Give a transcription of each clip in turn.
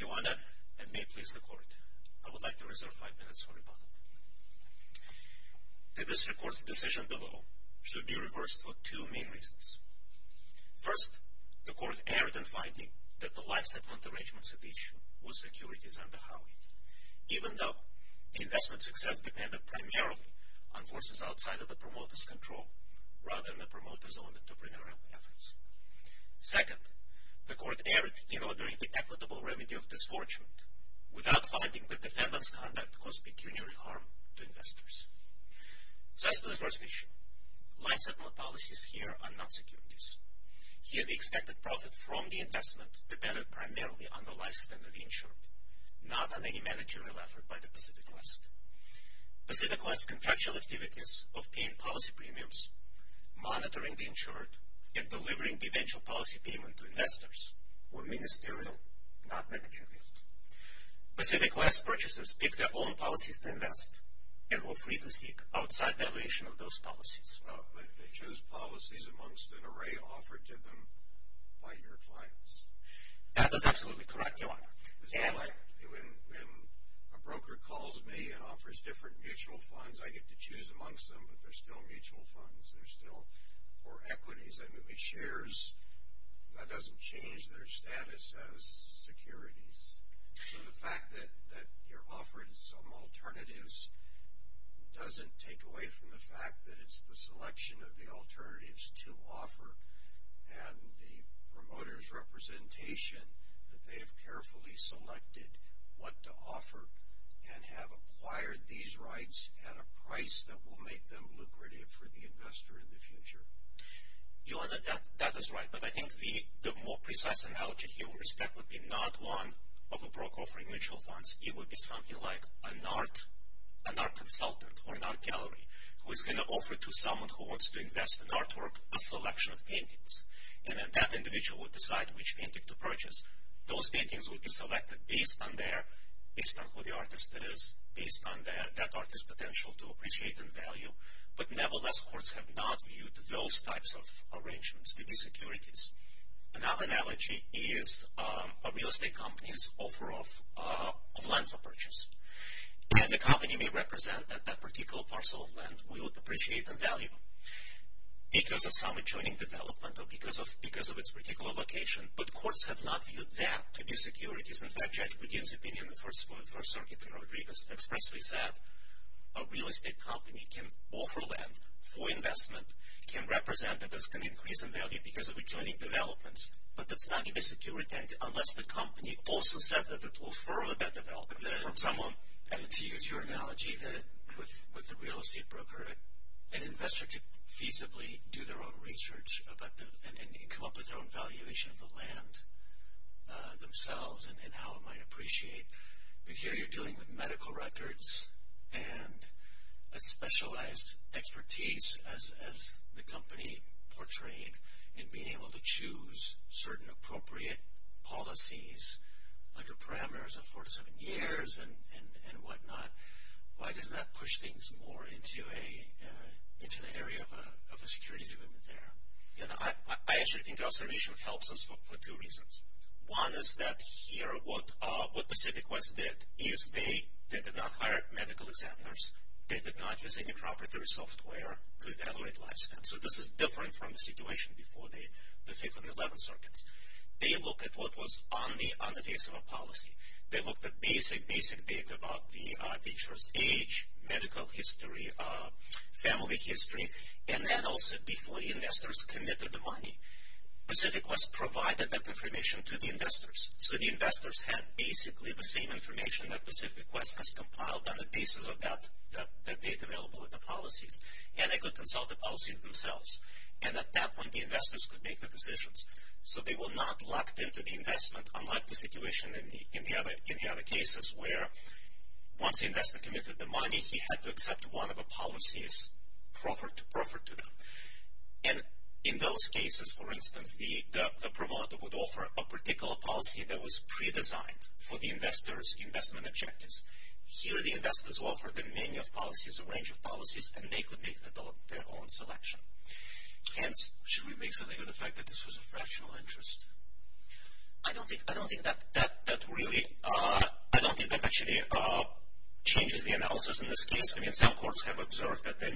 Iwanda, and may it please the Court, I would like to reserve five minutes for rebuttal. The District Court's decision below should be reversed for two main reasons. First, the Court erred in finding that the life segment arrangements at issue were securities under Howey, even though the investment success depended primarily on forces outside of the promoter's control, rather than the promoter's own entrepreneurial efforts. Second, the Court erred in ordering the equitable remedy of disforgement, without finding that defendant's conduct caused pecuniary harm to investors. Thus to the first issue, life segment policies here are not securities. Here the expected profit from the investment depended primarily on the life span of the insured, not on any managerial effort by the Pacific West. Pacific West's contractual activities of paying policy premiums, monitoring the insured, and delivering the eventual policy payment to investors were ministerial, not managerial. Pacific West purchasers picked their own policies to invest, and were free to seek outside valuation of those policies. But they chose policies amongst an array offered to them by your clients. That is absolutely correct, Your Honor. It's not like when a broker calls me and offers different mutual funds, I get to choose amongst them, but they're still mutual funds, they're still for equities. That doesn't change their status as securities. So the fact that you're offering some alternatives doesn't take away from the fact that it's the selection of the alternatives to offer and the promoter's representation that they have carefully selected what to offer and have acquired these rights at a price that will make them lucrative for the investor in the future. Your Honor, that is right. But I think the more precise analogy here with respect would be not one of a broker offering mutual funds. It would be something like an art consultant or an art gallery who is going to offer to someone who wants to invest in artwork a selection of paintings. And then that individual would decide which painting to purchase. Those paintings would be selected based on their, based on who the artist is, based on that artist's potential to appreciate and value. But nevertheless, courts have not viewed those types of arrangements to be securities. Another analogy is a real estate company's offer of land for purchase. And the company may represent that that particular parcel of land will appreciate and value because of some adjoining development or because of its particular location. But courts have not viewed that to be securities. In fact, Judge Gurdien's opinion in the First Circuit in Rodriguez expressly said that a real estate company can offer land for investment, can represent that this can increase in value because of adjoining developments, but that's not going to be securities unless the company also says that it will further that development from someone. And to use your analogy with the real estate broker, an investor could feasibly do their own research and come up with their own valuation of the land themselves and how it might appreciate. But here you're dealing with medical records and a specialized expertise as the company portrayed in being able to choose certain appropriate policies under parameters of four to seven years and whatnot. Why doesn't that push things more into an area of a securities agreement there? I actually think our solution helps us for two reasons. One is that here what Pacific West did is they did not hire medical examiners. They did not use any proprietary software to evaluate lifespan. So this is different from the situation before the 5th and 11th Circuits. They looked at what was on the face of a policy. They looked at basic, basic data about the insurance age, medical history, family history, and then also before the investors committed the money, Pacific West provided that information to the investors. So the investors had basically the same information that Pacific West has compiled on the basis of that data available with the policies. And they could consult the policies themselves. And at that point, the investors could make the decisions. So they were not locked into the investment, unlike the situation in the other cases where once the investor committed the money, he had to accept one of the policies proffered to them. And in those cases, for instance, the promoter would offer a particular policy that was pre-designed for the investor's investment objectives. Here the investors offered a menu of policies, a range of policies, and they could make their own selection. Hence, should we make something of the fact that this was a fractional interest? I don't think that really, I don't think that actually changes the analysis in this case. I mean, some courts have observed that there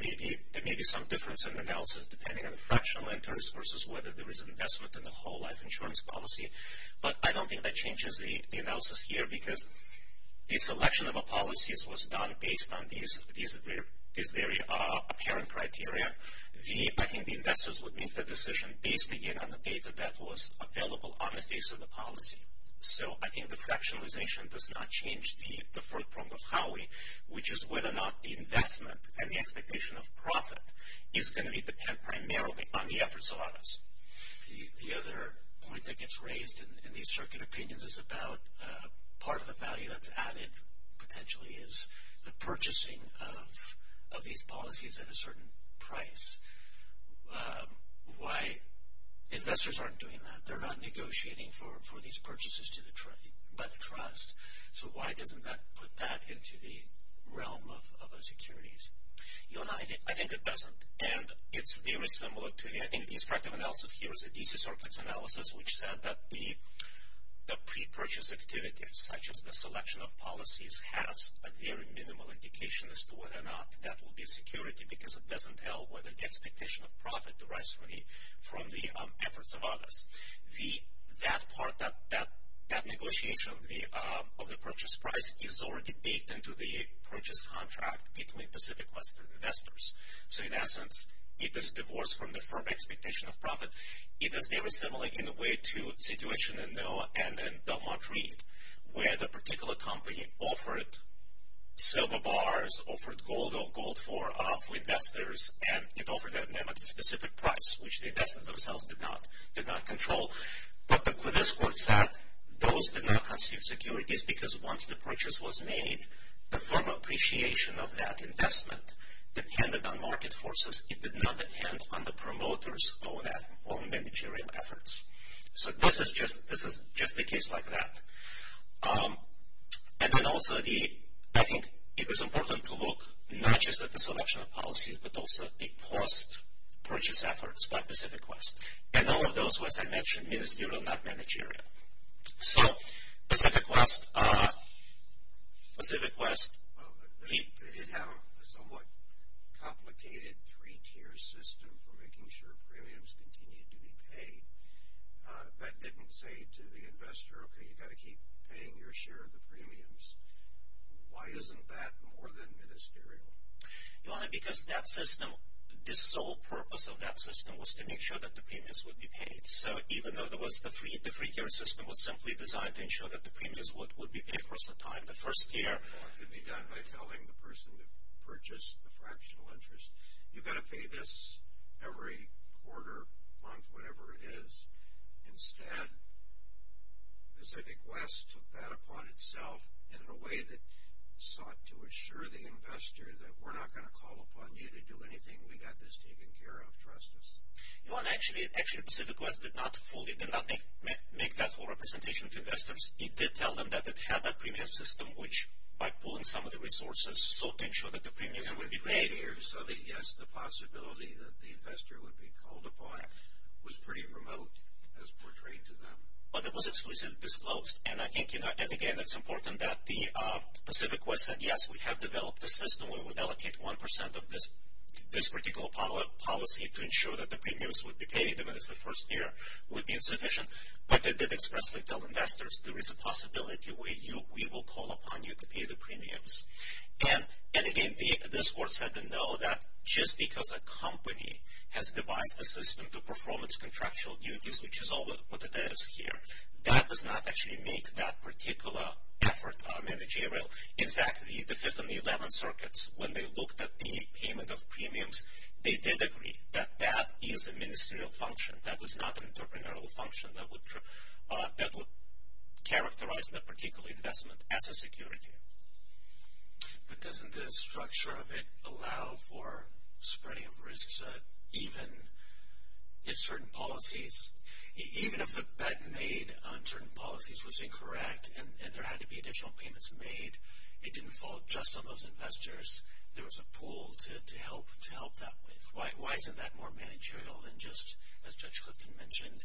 may be some difference in analysis depending on the fractional interest versus whether there is an investment in the whole life insurance policy. But I don't think that changes the analysis here because the selection of a policy was done based on these very apparent criteria. I think the investors would make the decision based, again, on the data that was available on the face of the policy. So I think the fractionalization does not change the forefront of how we, which is whether or not the investment and the expectation of profit is going to depend primarily on the efforts of others. The other point that gets raised in these circuit opinions is about part of the value that's added potentially is the purchasing of these policies at a certain price. Why investors aren't doing that. They're not negotiating for these purchases by the trust. So why doesn't that put that into the realm of securities? I think it doesn't. And it's very similar to the, I think the instructive analysis here is a DC Circuits analysis which said that the pre-purchase activities, such as the selection of policies, has a very minimal indication as to whether or not that will be a security because it doesn't tell whether the expectation of profit derives from the efforts of others. That part, that negotiation of the purchase price is already baked into the purchase contract between Pacific Western investors. So in essence, it is divorced from the firm expectation of profit. It is very similar in a way to the situation in NOAA and in Belmont Reed, where the particular company offered silver bars, offered gold or gold for investors, and it offered them at a specific price, which the investors themselves did not control. But the Quidditch court said those did not constitute securities because once the purchase was made, the firm appreciation of that investment depended on market forces. It did not depend on the promoter's own managerial efforts. So this is just the case like that. And then also, I think it is important to look not just at the selection of policies, but also the post-purchase efforts by Pacific West, and all of those who, as I mentioned, ministerial, not managerial. So Pacific West. They did have a somewhat complicated three-tier system for making sure premiums continued to be paid. That didn't say to the investor, okay, you've got to keep paying your share of the premiums. Why isn't that more than ministerial? Your Honor, because that system, the sole purpose of that system was to make sure that the premiums would be paid. So even though the three-tier system was simply designed to ensure that the premiums would be paid for some time the first year. Well, it could be done by telling the person to purchase the fractional interest, you've got to pay this every quarter, month, whatever it is. Instead, Pacific West took that upon itself in a way that sought to assure the investor that we're not going to call upon you to do anything. We've got this taken care of. Trust us. Your Honor, actually Pacific West did not fully, did not make that full representation to investors. It did tell them that it had that premium system, which by pulling some of the resources, sought to ensure that the premiums would be paid. So, yes, the possibility that the investor would be called upon was pretty remote as portrayed to them. But it was exclusively disclosed, and I think, again, it's important that Pacific West said, yes, we have developed a system where we allocate 1% of this particular policy to ensure that the premiums would be paid even if the first year would be insufficient. But they did expressly tell investors there is a possibility we will call upon you to pay the premiums. And, again, this Court said no, that just because a company has devised a system to perform its contractual duties, which is all that it is here, that does not actually make that particular effort managerial. In fact, the Fifth and the Eleventh Circuits, when they looked at the payment of premiums, they did agree that that is a ministerial function. That is not an entrepreneurial function that would characterize that particular investment as a security. But doesn't the structure of it allow for spreading of risks even if certain policies, even if the bet made on certain policies was incorrect and there had to be additional payments made, it didn't fall just on those investors, there was a pool to help that with. Why isn't that more managerial than just, as Judge Clifton mentioned,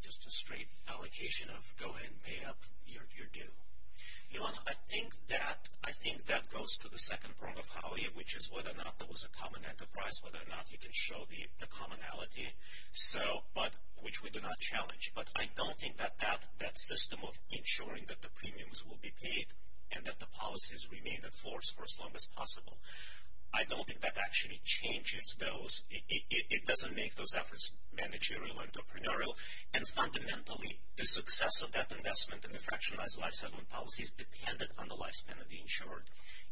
just a straight allocation of go ahead and pay up, you're due? Ilana, I think that goes to the second prong of Howie, which is whether or not there was a common enterprise, whether or not you can show the commonality, which we do not challenge. But I don't think that that system of ensuring that the premiums will be paid and that the policies remain in force for as long as possible, I don't think that actually changes those, it doesn't make those efforts managerial or entrepreneurial. And fundamentally, the success of that investment and the fractionalized life settlement policies depended on the lifespan of the insured.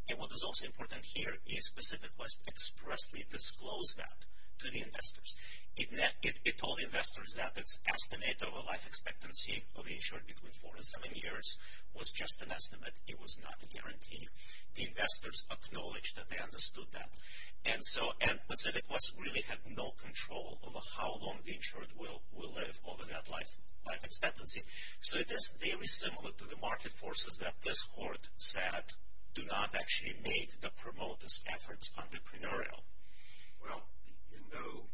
And what is also important here is Pacific West expressly disclosed that to the investors. It told investors that its estimate of a life expectancy of the insured between four and seven years was just an estimate, it was not a guarantee. The investors acknowledged that they understood that. And Pacific West really had no control over how long the insured will live over that life expectancy. So it is very similar to the market forces that this court said do not actually make the promoters' efforts entrepreneurial. Well, you know,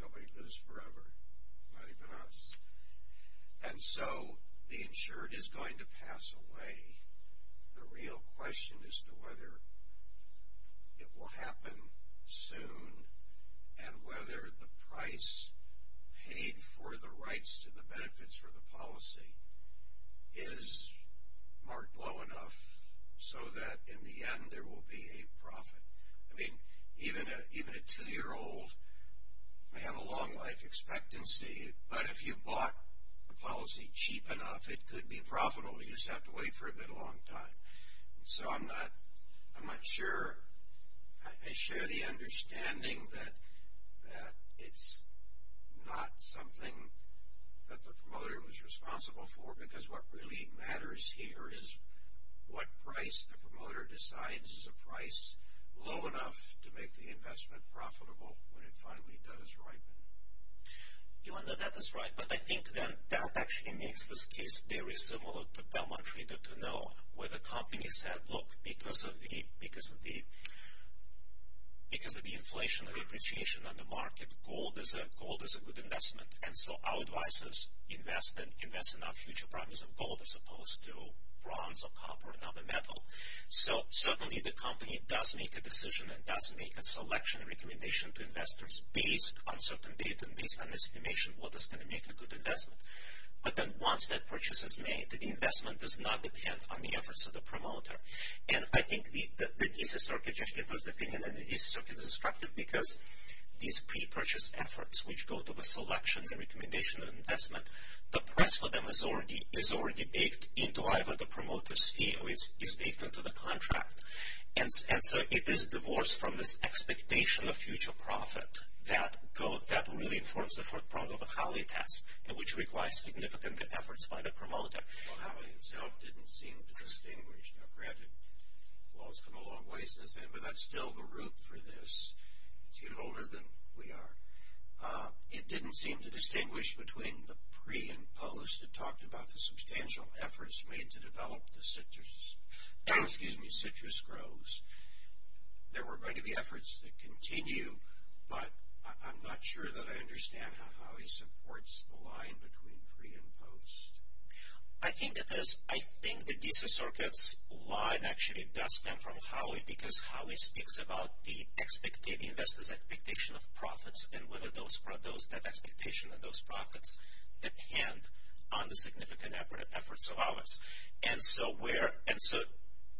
nobody lives forever, not even us. And so the insured is going to pass away. The real question as to whether it will happen soon and whether the price paid for the rights to the benefits for the policy is marked low enough so that in the end there will be a profit. I mean, even a two-year-old may have a long life expectancy, but if you bought the policy cheap enough, it could be profitable. You just have to wait for a good long time. And so I'm not sure. I share the understanding that it's not something that the promoter was responsible for because what really matters here is what price the promoter decides is a price low enough to make the investment profitable when it finally does ripen. You know, that is right. But I think then that actually makes this case very similar to Belmont Trader to know where the company said, look, because of the inflationary appreciation on the market, gold is a good investment. And so our advice is invest in our future properties of gold as opposed to bronze or copper and other metal. So certainly the company does make a decision and does make a selection and recommendation to investors based on certain data and based on estimation of what is going to make a good investment. But then once that purchase is made, the investment does not depend on the efforts of the promoter. And I think the thesis circuit just gave us an opinion, and the thesis circuit is destructive because these pre-purchase efforts, which go to the selection and recommendation of investment, the price for them is already baked into either the promoter's fee or is baked into the contract. And so it is divorced from this expectation of future profit that gold, that really informs the forefront of the Howey test, which requires significant efforts by the promoter. Well, Howey itself didn't seem to distinguish. Now, granted, well, it's come a long ways since then, but that's still the root for this. It's even older than we are. It didn't seem to distinguish between the pre and post. You talked about the substantial efforts made to develop the citrus groves. There were going to be efforts that continue, but I'm not sure that I understand how Howey supports the line between pre and post. I think the thesis circuit's line actually does stem from Howey because Howey speaks about the investor's expectation of profits and whether that expectation of those profits depend on the significant efforts of others. And so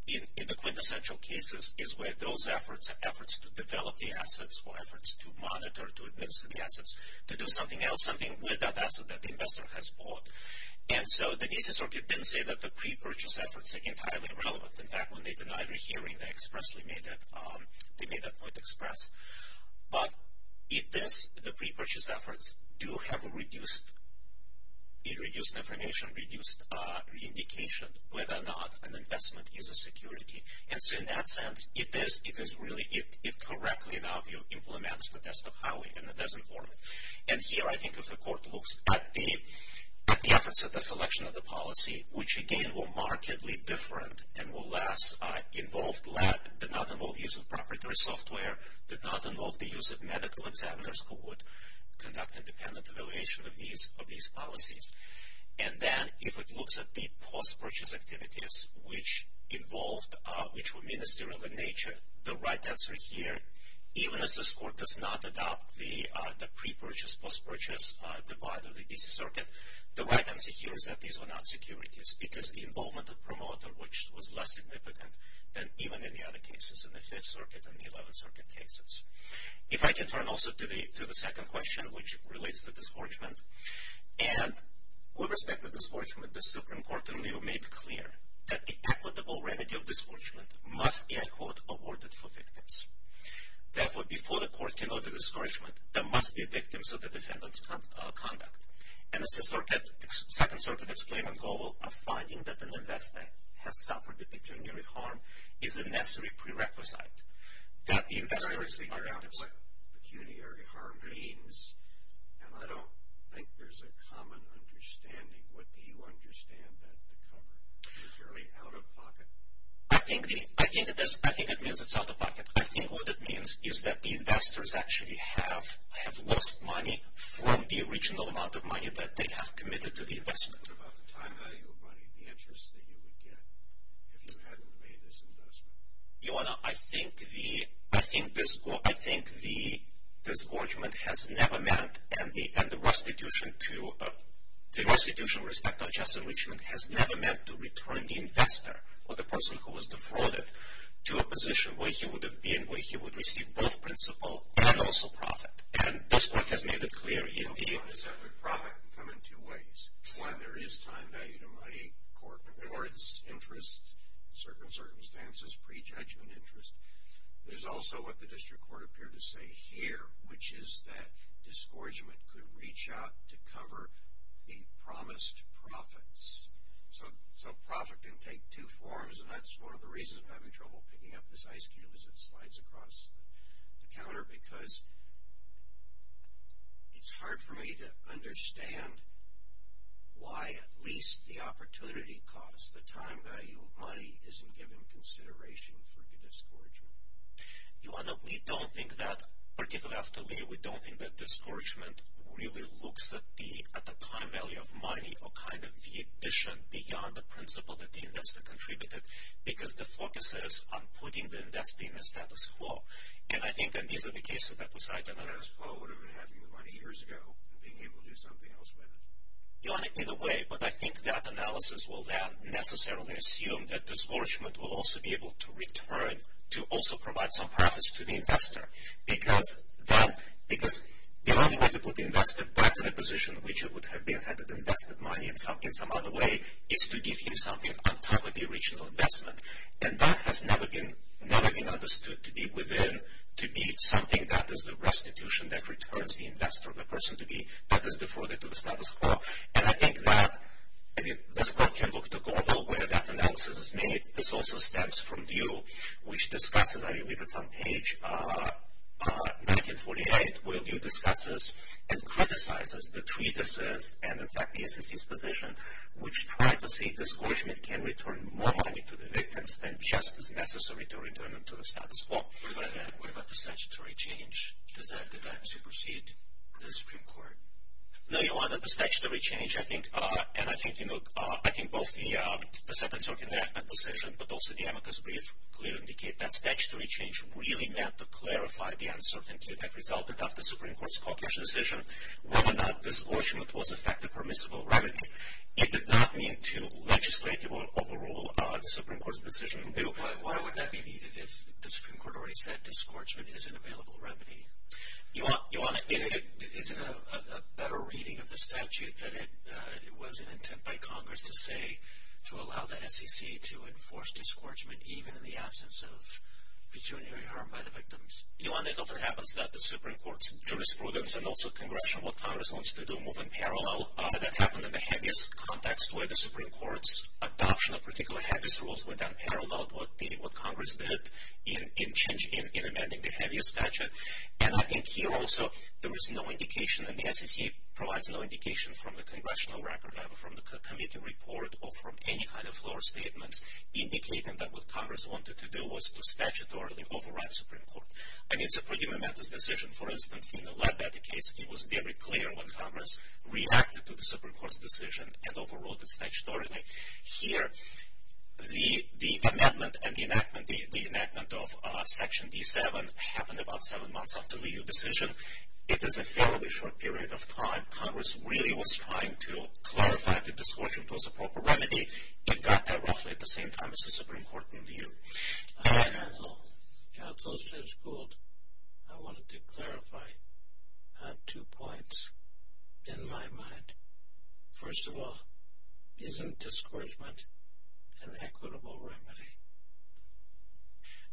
in the quintessential cases is where those efforts, efforts to develop the assets or efforts to monitor, to administer the assets, to do something else, something with that asset that the investor has bought. And so the thesis circuit didn't say that the pre-purchase efforts are entirely irrelevant. In fact, when they denied a hearing, they made that point express. But it is the pre-purchase efforts do have a reduced information, reduced indication whether or not an investment is a security. And so in that sense, it is really, it correctly, in our view, implements the test of Howey and it does inform it. And here I think if the court looks at the efforts of the selection of the policy, which again were markedly different and were less involved, did not involve use of proprietary software, did not involve the use of medical examiners who would conduct independent evaluation of these policies. And then if it looks at the post-purchase activities, which involved, which were ministerial in nature, the right answer here, even as this court does not adopt the pre-purchase, post-purchase divide of the thesis circuit, the right answer here is that these were not securities because the involvement of promoter, which was less significant than even in the other cases, in the Fifth Circuit and the Eleventh Circuit cases. If I can turn also to the second question, which relates to disgorgement, and with respect to disgorgement, the Supreme Court in lieu made clear that the equitable remedy of disgorgement must be, I quote, awarded for victims. Therefore, before the court can order disgorgement, there must be victims of the defendant's conduct. And the Second Circuit's claimant goal of finding that an investor has suffered a pecuniary harm is a necessary prerequisite that the investors are victims. I'm trying to figure out what pecuniary harm means, and I don't think there's a common understanding. What do you understand that to cover? Is it purely out-of-pocket? I think it is. I think it means it's out-of-pocket. I think what it means is that the investors actually have lost money from the original amount of money that they have committed to the investment. What about the time value of money, the interest that you would get if you hadn't made this investment? Ioanna, I think the disgorgement has never meant, and the restitution with respect to unjust enrichment has never meant to return the investor or the person who was defrauded to a position where he would have been, where he would receive both principal and also profit. And this court has made it clear in the… Well, profit can come in two ways. One, there is time value to money, court rewards, interest, circumstances, prejudgment interest. There's also what the district court appeared to say here, which is that disgorgement could reach out to cover the promised profits. So, profit can take two forms, and that's one of the reasons I'm having trouble picking up this ice cube as it slides across the counter, because it's hard for me to understand why at least the opportunity cost, the time value of money isn't given consideration for the disgorgement. Ioanna, we don't think that, particularly after Lee, we don't think that disgorgement really looks at the time value of money or kind of the addition beyond the principal that the investor contributed, because the focus is on putting the investor in the status quo. And I think these are the cases that we cite in the… I guess Paul would have been having the money years ago and being able to do something else with it. Ioanna, in a way, but I think that analysis will then necessarily assume that disgorgement will also be able to return to also provide some profits to the investor, because the only way to put the investor back in a position which it would have been had it invested money in some other way is to give him something on top of the original investment. And that has never been understood to be within, to be something that is the restitution that returns the investor, the person to be, that is deferred to the status quo. And I think that, I mean, this quote can look to Goebbels, where that analysis is made. This also stems from Liu, which discusses, I believe it's on page 1948, where Liu discusses and criticizes the treatises and, in fact, the SEC's position, which try to say disgorgement can return more money to the victims than just is necessary to return them to the status quo. What about the statutory change? Did that supersede the Supreme Court? No, Ioanna, the statutory change, I think, and I think, you know, I think both the sentence-circumventment decision but also the amicus brief clearly indicate that statutory change really meant to clarify the uncertainty that resulted after the Supreme Court's caucus decision whether or not disgorgement was effective permissible remedy. It did not mean to legislate or overrule the Supreme Court's decision. Why would that be needed if the Supreme Court already said disgorgement is an available remedy? Ioanna, is it a better reading of the statute that it was an intent by Congress to say to allow the SEC to enforce disgorgement even in the absence of pecuniary harm by the victims? Ioanna, it often happens that the Supreme Court's jurisprudence and also Congressional, what Congress wants to do, move in parallel. That happened in the heaviest context where the Supreme Court's adoption of particularly heaviest rules went unparalleled, what Congress did in amending the heaviest statute. And I think here also there is no indication, and the SEC provides no indication from the Congressional record, from the committee report, or from any kind of floor statements, indicating that what Congress wanted to do was to statutorily override the Supreme Court. And it's a pretty momentous decision. For instance, in the Leadbetter case, it was very clear when Congress reacted to the Supreme Court's decision and overruled it statutorily. Here, the amendment and the enactment, the enactment of Section D7, happened about seven months after the EU decision. It is a fairly short period of time. If Congress really was trying to clarify the discouragement was a proper remedy, it got there roughly at the same time as the Supreme Court in the EU. Hi, Anil. Gautam, Judge Gould. I wanted to clarify two points in my mind. First of all, isn't discouragement an equitable remedy?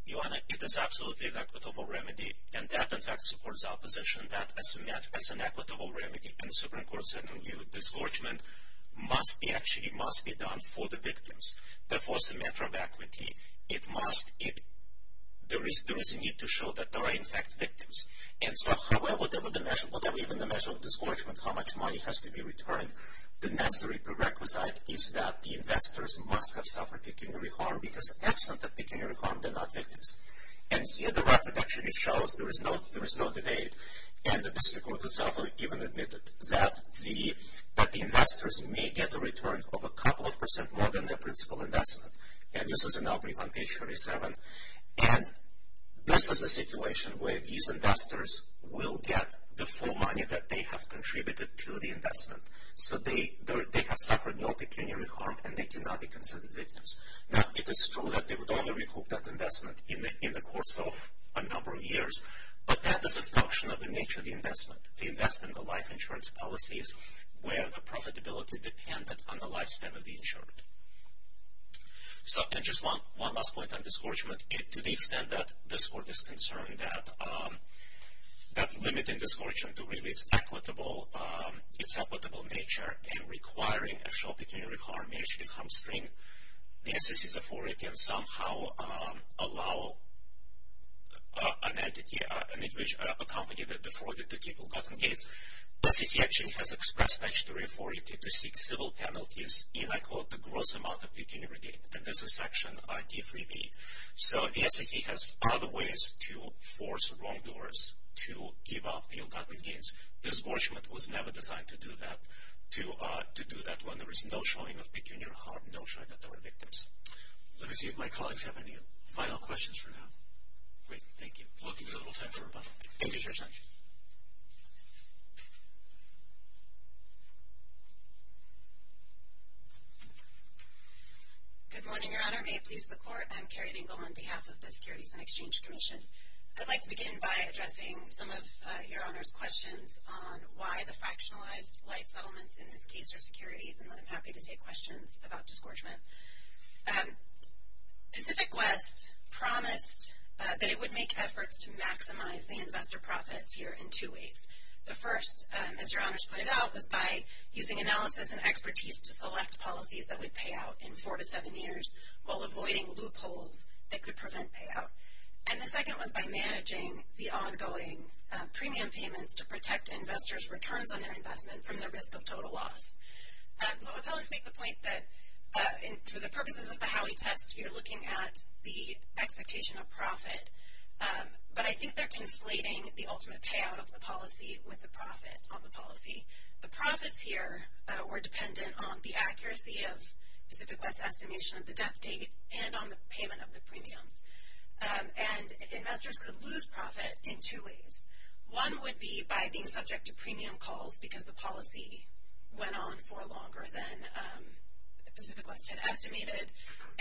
Ioanna, it is absolutely an equitable remedy, and that, in fact, supports our position that as an equitable remedy in the Supreme Court's EU, discouragement must be actually done for the victims. Therefore, as a matter of equity, there is a need to show that there are, in fact, victims. And so, however, whatever the measure of discouragement, how much money has to be returned, the necessary prerequisite is that the investors must have suffered pecuniary harm because absent of pecuniary harm, they're not victims. And here, the record actually shows there is no debate, and the district court itself even admitted that the investors may get a return of a couple of percent more than their principal investment. And this is in our brief on page 47. And this is a situation where these investors will get the full money that they have contributed to the investment. So they have suffered no pecuniary harm, and they cannot be considered victims. Now, it is true that they would only recoup that investment in the course of a number of years, but that is a function of the nature of the investment. They invest in the life insurance policies where the profitability depended on the lifespan of the insured. And just one last point on discouragement. To the extent that this court is concerned that limiting discouragement to really its equitable nature and requiring a show of pecuniary harm may actually hamstring the SEC's authority and somehow allow an entity, a company that defrauded to keep ill-gotten gains, the SEC actually has expressed statutory authority to seek civil penalties in, I quote, the gross amount of pecuniary gain. And this is section D3B. So the SEC has other ways to force wrongdoers to give up the ill-gotten gains. Discouragement was never designed to do that when there is no showing of pecuniary harm, no showing that they were victims. Let me see if my colleagues have any final questions for now. Great, thank you. We'll give you a little time for a moment. Thank you, Judge. Good morning, Your Honor. May it please the Court, I'm Carrie Dingell on behalf of the Securities and Exchange Commission. I'd like to begin by addressing some of Your Honor's questions on why the fractionalized life settlements in this case are securities, and then I'm happy to take questions about discouragement. Pacific West promised that it would make efforts to maximize the investor profits here in two ways. The first, as Your Honor's pointed out, was by using analysis and expertise to select policies that would pay out in four to seven years while avoiding loopholes that could prevent payout. And the second was by managing the ongoing premium payments to protect investors' returns on their investment from the risk of total loss. So appellants make the point that for the purposes of the Howey test, you're looking at the expectation of profit, but I think they're conflating the ultimate payout of the policy with the profit on the policy. The profits here were dependent on the accuracy of Pacific West's estimation of the debt date and on the payment of the premiums. And investors could lose profit in two ways. One would be by being subject to premium calls because the policy went on for longer than Pacific West had estimated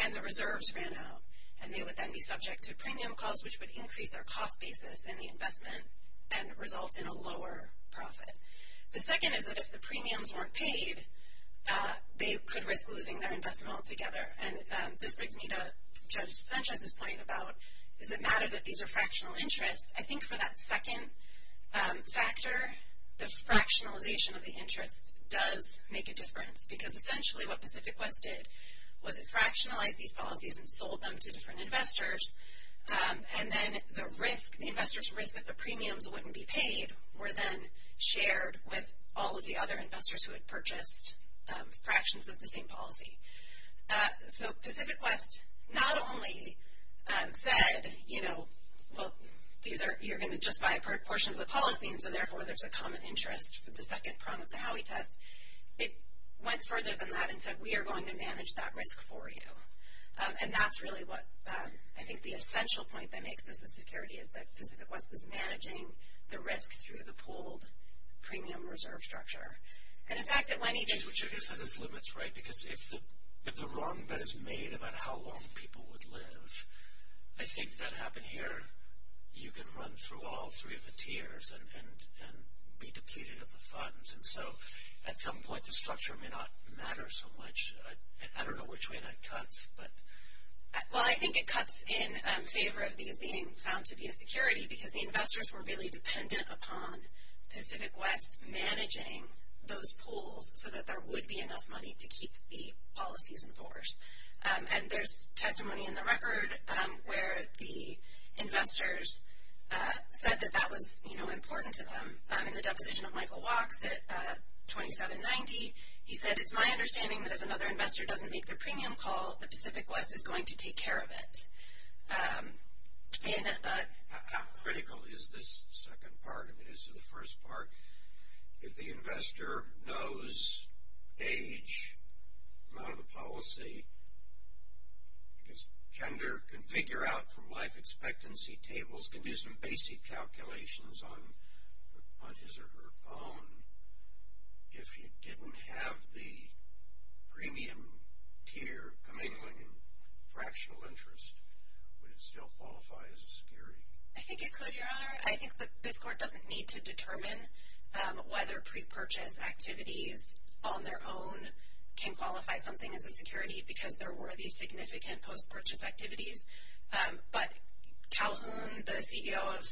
and the reserves ran out. And they would then be subject to premium calls, which would increase their cost basis in the investment and result in a lower profit. The second is that if the premiums weren't paid, they could risk losing their investment altogether. And this brings me to Judge Sanchez's point about, does it matter that these are fractional interests? I think for that second factor, the fractionalization of the interest does make a difference because essentially what Pacific West did was it fractionalized these policies and sold them to different investors. And then the risk, the investors' risk that the premiums wouldn't be paid, were then shared with all of the other investors who had purchased fractions of the same policy. So Pacific West not only said, you know, well, you're going to just buy a portion of the policy and so therefore there's a common interest for the second prong of the Howey test. It went further than that and said, we are going to manage that risk for you. And that's really what I think the essential point that makes this a security is that Pacific West was managing the risk through the pooled premium reserve structure. And in fact, it went each. Which I guess has its limits, right? Because if the wrong bet is made about how long people would live, I think that happened here. You can run through all three of the tiers and be depleted of the funds. And so at some point the structure may not matter so much. I don't know which way that cuts, but. Well, I think it cuts in favor of these being found to be a security because the investors were really dependent upon Pacific West managing those pools so that there would be enough money to keep the policies in force. And there's testimony in the record where the investors said that that was, you know, important to them. In the deposition of Michael Wachs at 2790, he said, It's my understanding that if another investor doesn't make their premium call, the Pacific West is going to take care of it. How critical is this second part of it as to the first part? If the investor knows age, amount of the policy, because gender can figure out from life expectancy tables, can do some basic calculations on his or her own. If you didn't have the premium tier commingling and fractional interest, would it still qualify as a security? I think it could, Your Honor. I think this court doesn't need to determine whether pre-purchase activities on their own can qualify something as a security because there were these significant post-purchase activities. But Calhoun, the CEO of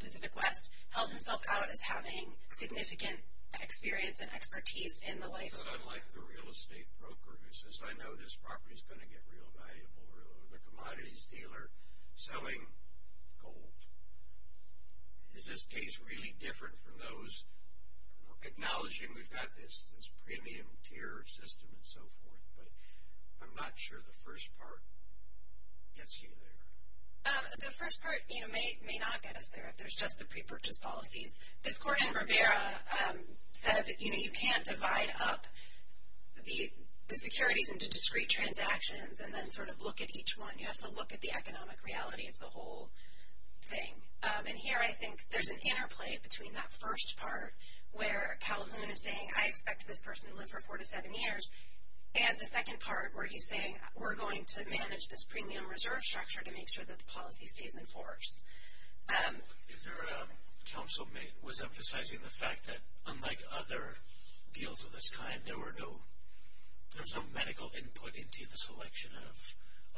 Pacific West, held himself out as having significant experience and expertise in the life of the property. Unlike the real estate broker who says, I know this property is going to get real valuable, or the commodities dealer selling gold. Is this case really different from those acknowledging we've got this premium tier system and so forth? But I'm not sure the first part gets you there. The first part, you know, may not get us there if there's just the pre-purchase policies. This court in Rivera said, you know, you can't divide up the securities into discrete transactions and then sort of look at each one. You have to look at the economic reality of the whole thing. And here I think there's an interplay between that first part where Calhoun is saying, I expect this person to live for four to seven years, and the second part where he's saying we're going to manage this premium reserve structure to make sure that the policy stays in force. Is there a counsel was emphasizing the fact that unlike other deals of this kind, there was no medical input into the selection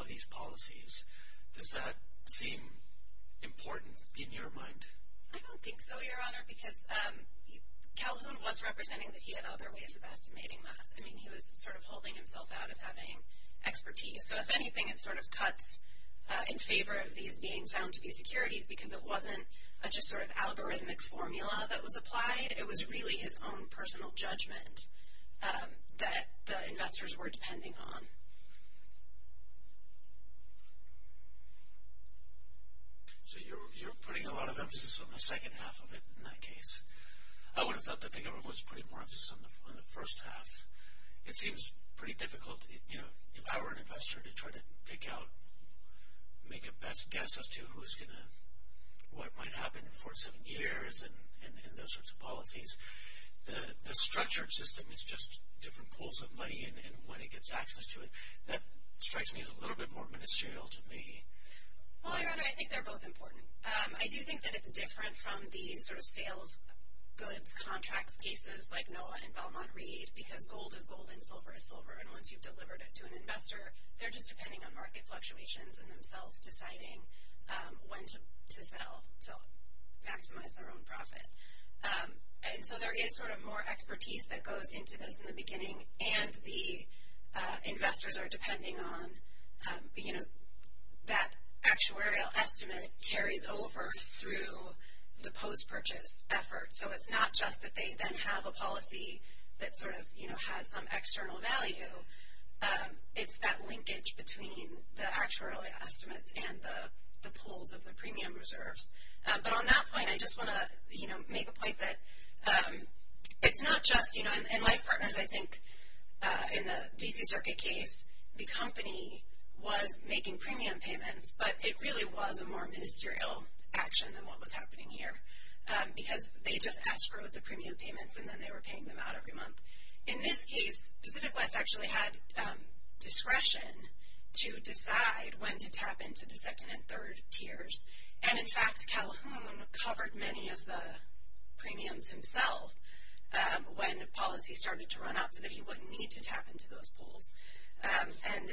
of these policies. Does that seem important in your mind? I don't think so, Your Honor, because Calhoun was representing that he had other ways of estimating that. I mean, he was sort of holding himself out as having expertise. So if anything, it sort of cuts in favor of these being found to be securities because it wasn't just sort of algorithmic formula that was applied. It was really his own personal judgment that the investors were depending on. So you're putting a lot of emphasis on the second half of it in that case. I would have thought that the government was putting more emphasis on the first half. It seems pretty difficult, you know, if I were an investor to try to pick out, make a best guess as to who's going to, what might happen in four to seven years and those sorts of policies. The structured system is just different pools of money and when it gets access to it. That strikes me as a little bit more ministerial to me. Well, Your Honor, I think they're both important. I do think that it's different from the sort of sales goods contracts cases like NOAA and Belmont Reed because gold is gold and silver is silver. And once you've delivered it to an investor, they're just depending on market fluctuations and themselves deciding when to sell to maximize their own profit. And so there is sort of more expertise that goes into this in the beginning and the investors are depending on, you know, that actuarial estimate carries over through the post-purchase effort. So it's not just that they then have a policy that sort of, you know, has some external value. It's that linkage between the actuarial estimates and the pools of the premium reserves. But on that point, I just want to, you know, make a point that it's not just, you know, and Life Partners, I think, in the D.C. Circuit case, the company was making premium payments, but it really was a more ministerial action than what was happening here because they just escrowed the premium payments and then they were paying them out every month. In this case, Pacific West actually had discretion to decide when to tap into the second and third tiers and, in fact, Calhoun covered many of the premiums himself when policy started to run up so that he wouldn't need to tap into those pools. And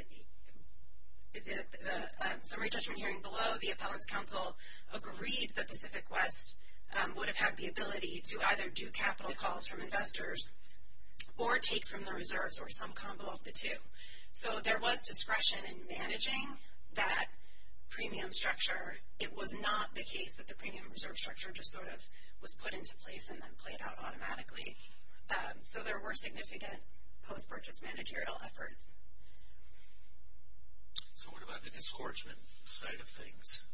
the summary judgment hearing below, the Appellants Council agreed that Pacific West would have had the ability to either do capital calls from investors or take from the reserves or some combo of the two. So there was discretion in managing that premium structure. It was not the case that the premium reserve structure just sort of was put into place and then played out automatically. So there were significant post-purchase managerial efforts. So what about the disgorgement side of things?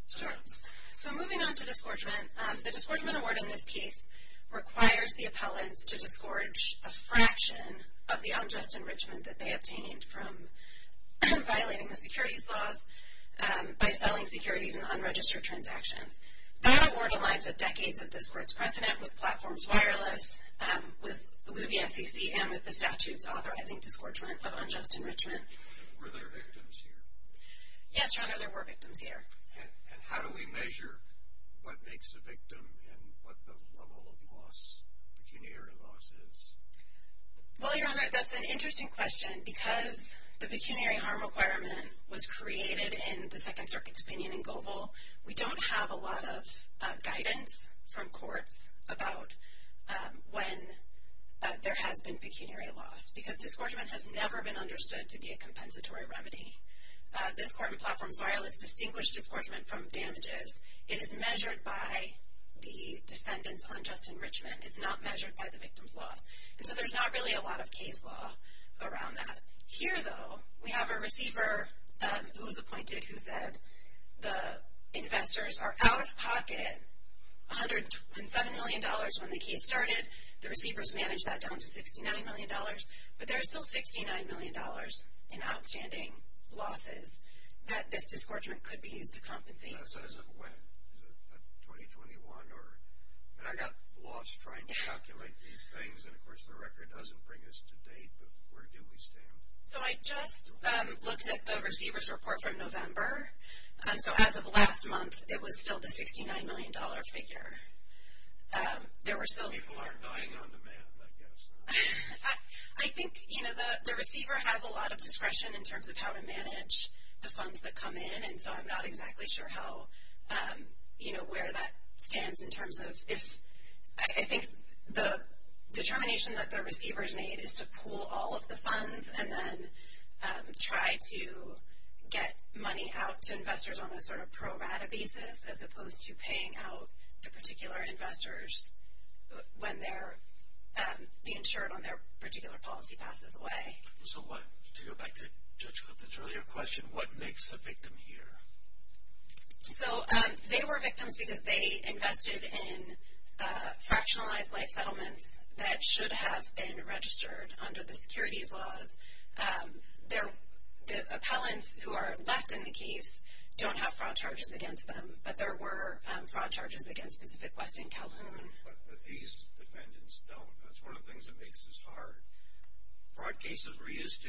So moving on to disgorgement, the disgorgement award in this case requires the appellants to disgorge a fraction of the unjust enrichment that they obtained from violating the securities laws by selling securities in unregistered transactions. That award aligns with decades of disgorge precedent with Platforms Wireless, with Luby SEC, and with the statutes authorizing disgorgement of unjust enrichment. Were there victims here? Yes, Your Honor, there were victims here. And how do we measure what makes a victim and what the level of loss, pecuniary loss, is? Well, Your Honor, that's an interesting question. Because the pecuniary harm requirement was created in the Second Circuit's opinion in Goebel, we don't have a lot of guidance from courts about when there has been pecuniary loss because disgorgement has never been understood to be a compensatory remedy. This Court in Platforms Wireless distinguished disgorgement from damages. It is measured by the defendants' unjust enrichment. It's not measured by the victims' loss. And so there's not really a lot of case law around that. Here, though, we have a receiver who was appointed who said the investors are out of pocket. $107 million when the case started, the receivers managed that down to $69 million. But there's still $69 million in outstanding losses that this disgorgement could be used to compensate. That says when? Is it 2021? And I got lost trying to calculate these things. And, of course, the record doesn't bring us to date. But where do we stand? So I just looked at the receiver's report from November. So as of last month, it was still the $69 million figure. People aren't dying on demand, I guess. I think, you know, the receiver has a lot of discretion in terms of how to manage the funds that come in. And so I'm not exactly sure how, you know, where that stands in terms of if. I think the determination that the receivers made is to pool all of the funds and then try to get money out to investors on a sort of pro-rata basis as opposed to paying out the particular investors when the insured on their particular policy passes away. So to go back to Judge Clifton's earlier question, what makes a victim here? So they were victims because they invested in fractionalized life settlements that should have been registered under the securities laws. The appellants who are left in the case don't have fraud charges against them. But there were fraud charges against Pacific West and Calhoun. But these defendants don't. That's one of the things that makes this hard. Fraud cases, we're used to.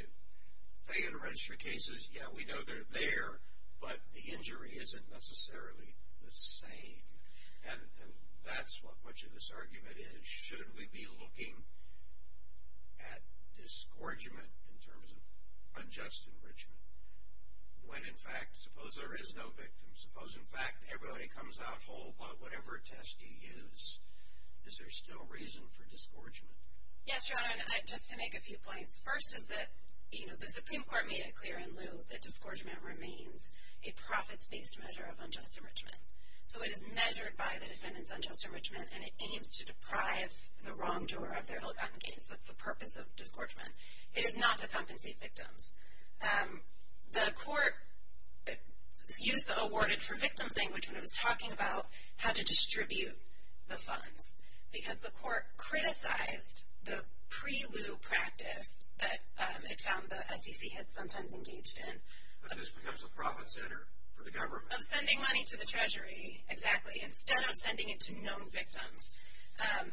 Failure to register cases, yeah, we know they're there. But the injury isn't necessarily the same. And that's what much of this argument is. Should we be looking at disgorgement in terms of unjust enrichment when, in fact, suppose there is no victim? Suppose, in fact, everybody comes out whole by whatever test you use. Is there still reason for disgorgement? Yes, Your Honor, and just to make a few points. First is that the Supreme Court made it clear in lieu that disgorgement remains a profits-based measure of unjust enrichment. So it is measured by the defendant's unjust enrichment, and it aims to deprive the wrongdoer of their ill-gotten gains. That's the purpose of disgorgement. It is not to compensate victims. The court used the awarded for victims language when it was talking about how to distribute the funds because the court criticized the pre-lieu practice that it found the SEC had sometimes engaged in. But this becomes a profit center for the government. Of sending money to the Treasury, exactly. Instead of sending it to known victims.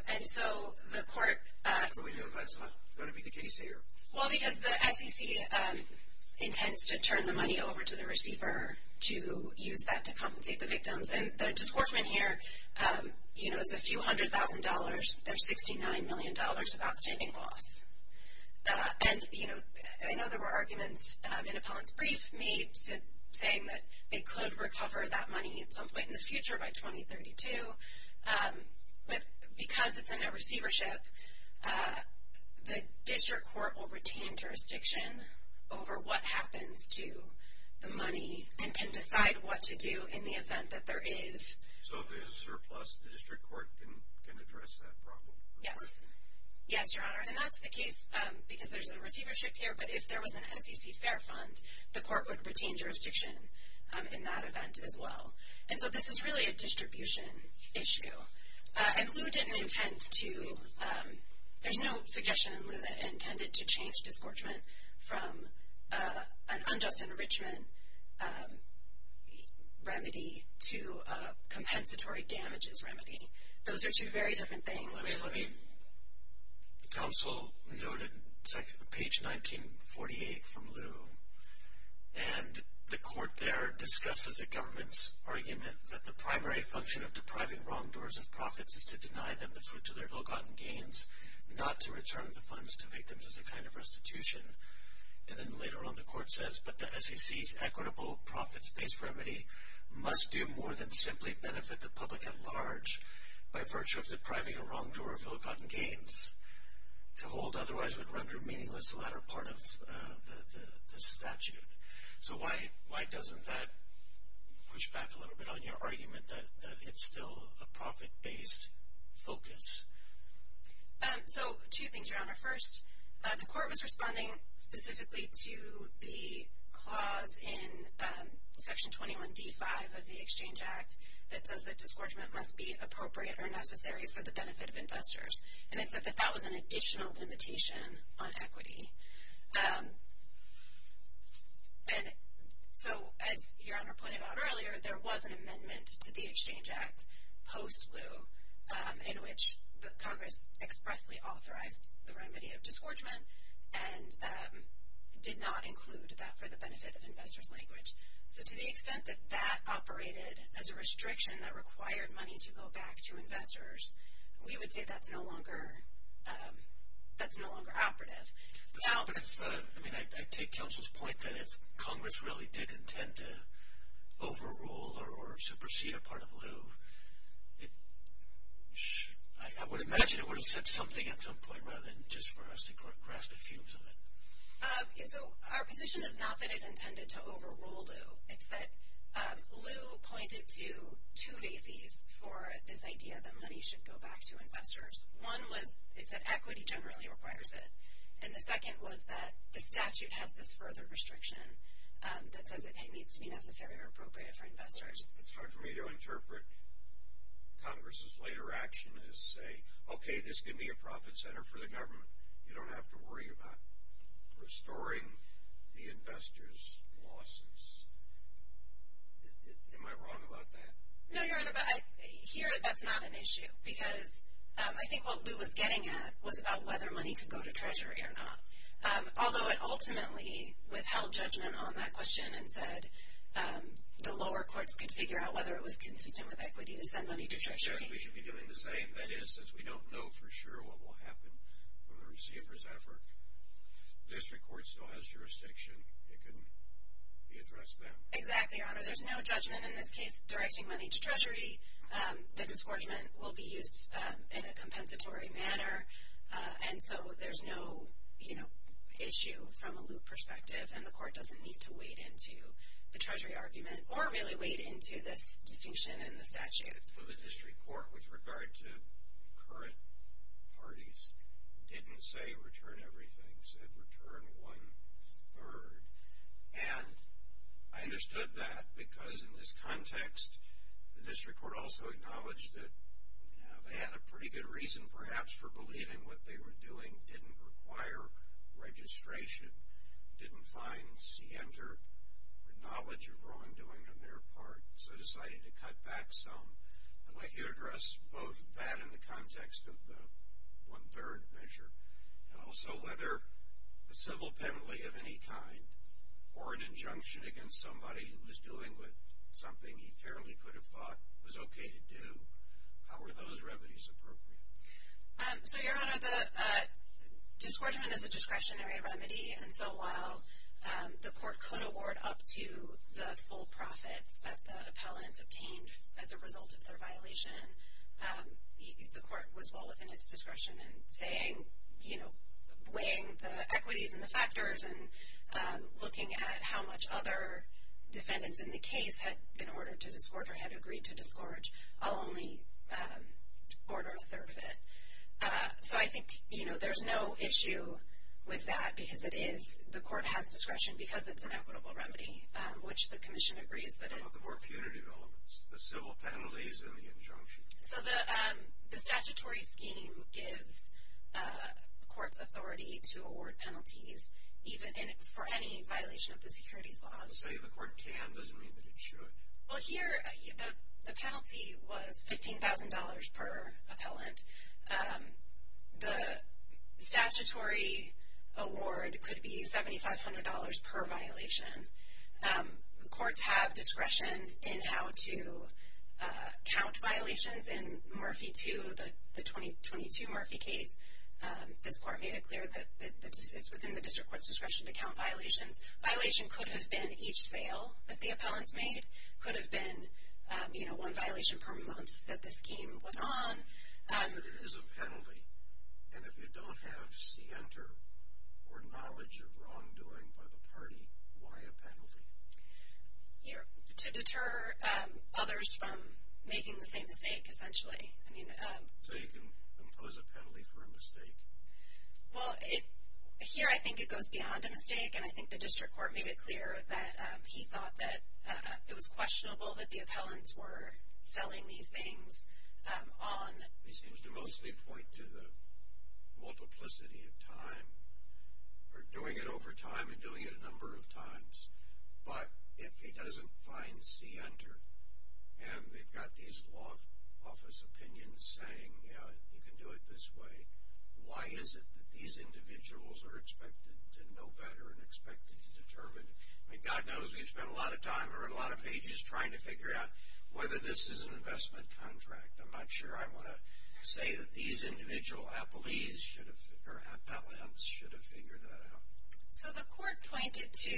And so the court... How do we know that's not going to be the case here? Well, because the SEC intends to turn the money over to the receiver to use that to compensate the victims. And the disgorgement here is a few hundred thousand dollars. There's $69 million of outstanding loss. And I know there were arguments in Appellant's brief made saying that they could recover that money at some point in the future by 2032. But because it's a no receivership, the district court will retain jurisdiction over what happens to the money and can decide what to do in the event that there is... So if there's a surplus, the district court can address that problem? Yes. Yes, Your Honor. And that's the case because there's a receivership here, but if there was an SEC fair fund, the court would retain jurisdiction in that event as well. And so this is really a distribution issue. And Lew didn't intend to... There's no suggestion in Lew that it intended to change disgorgement from an unjust enrichment remedy to a compensatory damages remedy. Those are two very different things. Let me... Counsel noted page 1948 from Lew. And the court there discusses the government's argument that the primary function of depriving wrongdoers of profits is to deny them the fruit of their ill-gotten gains, not to return the funds to victims as a kind of restitution. And then later on the court says, but the SEC's equitable profits-based remedy must do more than simply benefit the public at large by virtue of depriving a wrongdoer of ill-gotten gains to hold otherwise what render meaningless the latter part of the statute. So why doesn't that push back a little bit on your argument that it's still a profit-based focus? So two things, Your Honor. First, the court was responding specifically to the clause in Section 21d5 of the Exchange Act that says that disgorgement must be appropriate or necessary for the benefit of investors. And it said that that was an additional limitation on equity. And so as Your Honor pointed out earlier, there was an amendment to the Exchange Act post-Lew in which Congress expressly authorized the remedy of disgorgement and did not include that for the benefit of investors language. So to the extent that that operated as a restriction that required money to go back to investors, we would say that's no longer operative. But I take counsel's point that if Congress really did intend to overrule or supersede a part of Lew, I would imagine it would have said something at some point rather than just for us to grasp a fumes of it. So our position is not that it intended to overrule Lew. It's that Lew pointed to two bases for this idea that money should go back to investors. One was it said equity generally requires it. And the second was that the statute has this further restriction that says it needs to be necessary or appropriate for investors. It's hard for me to interpret Congress's later action as say, okay, this could be a profit center for the government. You don't have to worry about restoring the investors' losses. Am I wrong about that? No, Your Honor, but here that's not an issue because I think what Lew was getting at was about whether money could go to Treasury or not. Although it ultimately withheld judgment on that question and said the lower courts could figure out whether it was consistent with equity to send money to Treasury. It suggests we should be doing the same. And that is since we don't know for sure what will happen with the receiver's effort, the district court still has jurisdiction. It can address that. Exactly, Your Honor. There's no judgment in this case directing money to Treasury. The disgorgement will be used in a compensatory manner. And so there's no issue from a Lew perspective. And the court doesn't need to wade into the Treasury argument or really wade into this distinction in the statute. The district court with regard to the current parties didn't say return everything, said return one-third. And I understood that because in this context the district court also acknowledged that they had a pretty good reason perhaps for believing what they were doing didn't require registration, didn't find scienter the knowledge of wrongdoing on their part, so decided to cut back some. I'd like you to address both that in the context of the one-third measure and also whether a civil penalty of any kind or an injunction against somebody who was dealing with something he fairly could have thought was okay to do, how are those remedies appropriate? So, Your Honor, the disgorgement is a discretionary remedy. And so while the court could award up to the full profits that the appellants obtained as a result of their violation, the court was well within its discretion in saying, weighing the equities and the factors and looking at how much other defendants in the case had been ordered to disgorge or had agreed to disgorge, I'll only order a third of it. So I think, you know, there's no issue with that because it is, the court has discretion because it's an equitable remedy, which the commission agrees that it is. What about the more punitive elements, the civil penalties and the injunction? So the statutory scheme gives courts authority to award penalties even for any violation of the securities laws. But saying the court can doesn't mean that it should. Well, here, the penalty was $15,000 per appellant. The statutory award could be $7,500 per violation. The courts have discretion in how to count violations in Murphy II, the 2022 Murphy case. This court made it clear that it's within the district court's discretion to count violations. Violation could have been each sale that the appellants made, could have been, you know, one violation per month that this scheme was on. But it is a penalty. And if you don't have scienter or knowledge of wrongdoing by the party, why a penalty? To deter others from making the same mistake, essentially. So you can impose a penalty for a mistake? Well, here I think it goes beyond a mistake and I think the district court made it clear that he thought that it was questionable that the appellants were selling these things on. He seems to mostly point to the multiplicity of time or doing it over time and doing it a number of times. But if he doesn't find scienter, and they've got these law office opinions saying you can do it this way, why is it that these individuals are expected to know better and expected to determine? I mean, God knows we've spent a lot of time or a lot of pages trying to figure out whether this is an investment contract. I'm not sure I want to say that these individual appellants should have figured that out. So the court pointed to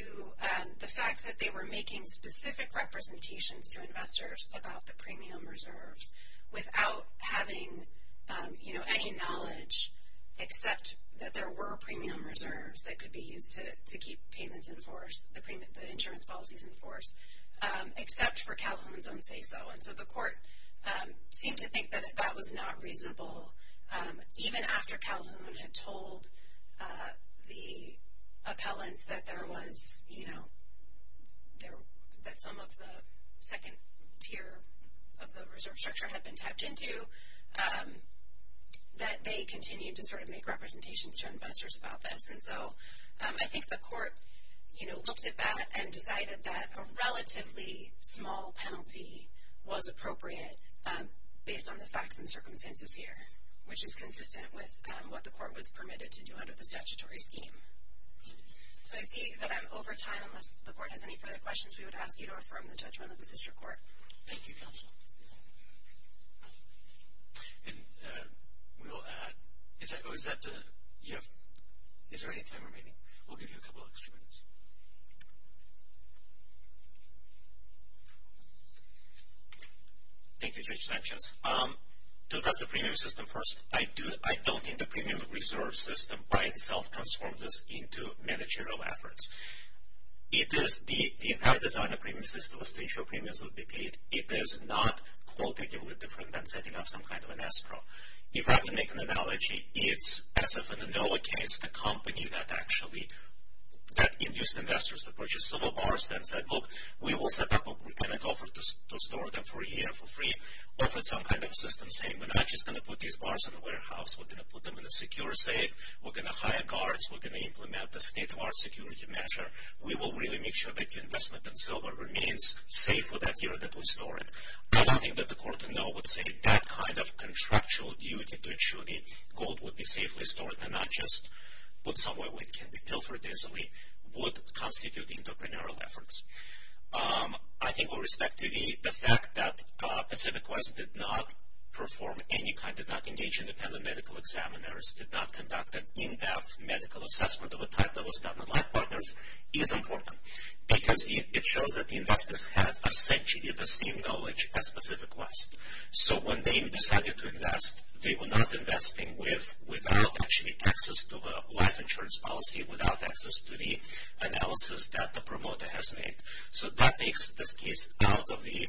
the fact that they were making specific representations to investors about the premium reserves without having any knowledge, except that there were premium reserves that could be used to keep payments in force, the insurance policies in force, except for Calhoun's own say so. And so the court seemed to think that that was not reasonable, even after Calhoun had told the appellants that there was, you know, that some of the second tier of the reserve structure had been tapped into, that they continued to sort of make representations to investors about this. And so I think the court, you know, looked at that and decided that a relatively small penalty was appropriate based on the facts and circumstances here, which is consistent with what the court was permitted to do under the statutory scheme. So I see that I'm over time. Unless the court has any further questions, we would ask you to affirm the judgment of the district court. Thank you, counsel. And we will add, is there any time remaining? We'll give you a couple extra minutes. Thank you, Judge Sanchez. To address the premium system first, I don't think the premium reserve system by itself transforms us into managerial efforts. It is the entire design of premium system is to ensure premiums will be paid. It is not qualitatively different than setting up some kind of an escrow. If I can make an analogy, it's as if in the NOAA case, a company that actually, that induced investors to purchase silver bars, then said, look, we will set up an offer to store them for a year for free, or for some kind of system saying, we're not just going to put these bars in the warehouse. We're going to put them in a secure safe. We're going to hire guards. We're going to implement the state of art security measure. We will really make sure that your investment in silver remains safe for that year that we store it. I don't think that the court in NOAA would say that kind of contractual duty to ensure the gold would be safely stored and not just put somewhere where it can be pilfered easily would constitute entrepreneurial efforts. I think with respect to the fact that Pacific West did not perform any kind, did not engage independent medical examiners, did not conduct an in-depth medical assessment of a type that was done on life partners, is important. Because it shows that the investors had essentially the same knowledge as Pacific West. So when they decided to invest, they were not investing without actually access to the life insurance policy, without access to the analysis that the promoter has made. So that takes this case out of the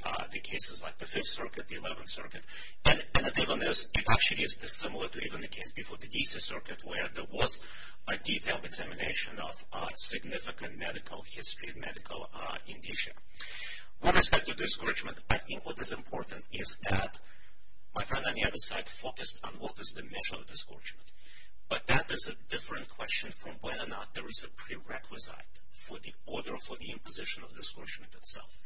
cases like the Fifth Circuit, the Eleventh Circuit. And it even is, it actually is similar to even the case before the DC Circuit where there was a detailed examination of significant medical history, medical indicia. With respect to discouragement, I think what is important is that, my friend on the other side focused on what is the measure of discouragement. But that is a different question from whether or not there is a prerequisite for the order or for the imposition of discouragement itself.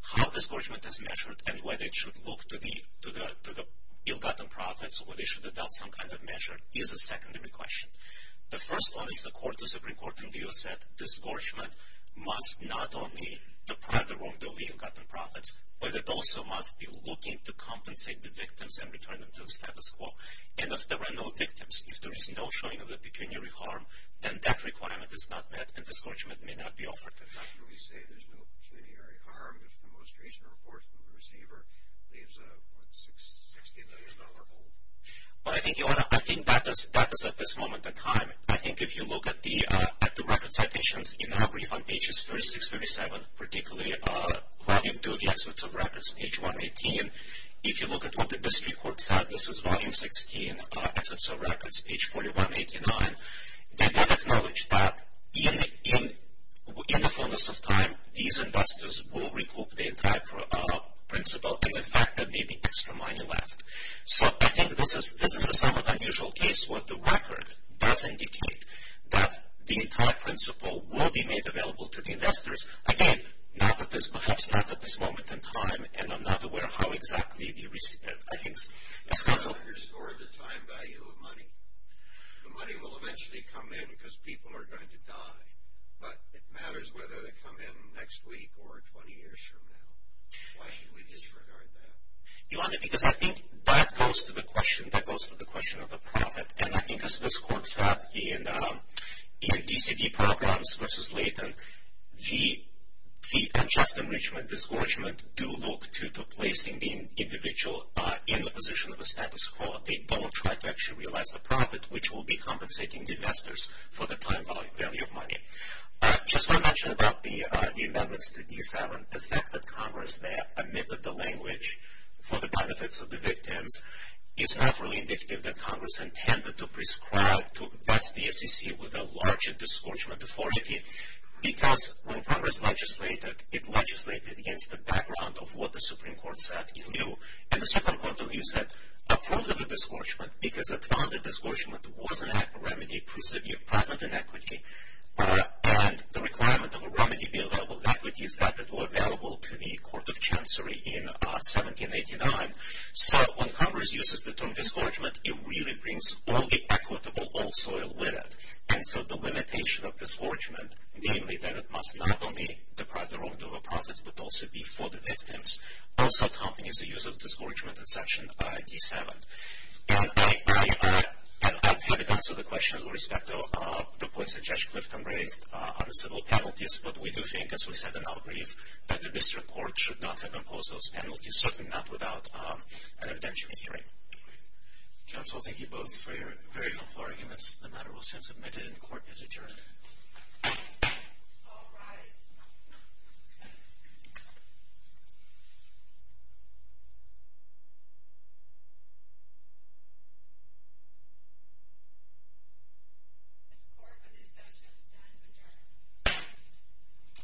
How discouragement is measured and whether it should look to the ill-gotten profits or whether they should adopt some kind of measure is a secondary question. The first one is the court, the Supreme Court in the U.S. said, discouragement must not only deprive the wrongdoer of the ill-gotten profits, but it also must be looking to compensate the victims and return them to the status quo. And if there are no victims, if there is no showing of a pecuniary harm, then that requirement is not met and discouragement may not be offered. But how can we say there is no pecuniary harm if the most recent report from the receiver leaves a $60 million hole? Well, I think that is at this moment in time. I think if you look at the record citations in our brief on pages 36-37, particularly Volume 2 of the Experts of Records, page 118, and if you look at what the district court said, this is Volume 16, Experts of Records, page 4189, they did acknowledge that in the fullness of time, these investors will recoup the entire principle and in fact there may be extra money left. So I think this is a somewhat unusual case where the record does indicate that the entire principle will be made available to the investors. Again, perhaps not at this moment in time and I'm not aware of how exactly the recipient, I think. Yes, counsel. You underscored the time value of money. The money will eventually come in because people are going to die, but it matters whether they come in next week or 20 years from now. Why should we disregard that? Your Honor, because I think that goes to the question, that goes to the question of the profit. And I think as this court said in DCD programs versus Leighton, the unjust enrichment, disgorgement, do look to placing the individual in the position of a status quo. They don't try to actually realize the profit, which will be compensating the investors for the time value of money. Just one mention about the amendments to D7. The fact that Congress there omitted the language for the benefits of the victims is not really indicative that Congress intended to prescribe, to bless the SEC with a larger disgorgement authority because when Congress legislated, it legislated against the background of what the Supreme Court said in lieu. And the Supreme Court, in lieu, said approve of the disgorgement because it found that disgorgement was a remedy present in equity and the requirement of a remedy be available in equity is that it was available to the Court of Chancery in 1789. So when Congress uses the term disgorgement, it really brings all the equitable old soil with it. And so the limitation of disgorgement, namely that it must not only deprive the wrongdoer of profits, but also be for the victims, also accompanies the use of disgorgement in Section D7. And I haven't answered the question with respect to the points that Judge Clifton raised on the civil penalties, but we do think, as we said in our brief, that the district court should not have imposed those penalties, certainly not without an evidentiary hearing. Counsel, thank you both for your very helpful arguments. The matter will stand submitted, and the Court is adjourned. All rise. This Court, for this session, stands adjourned.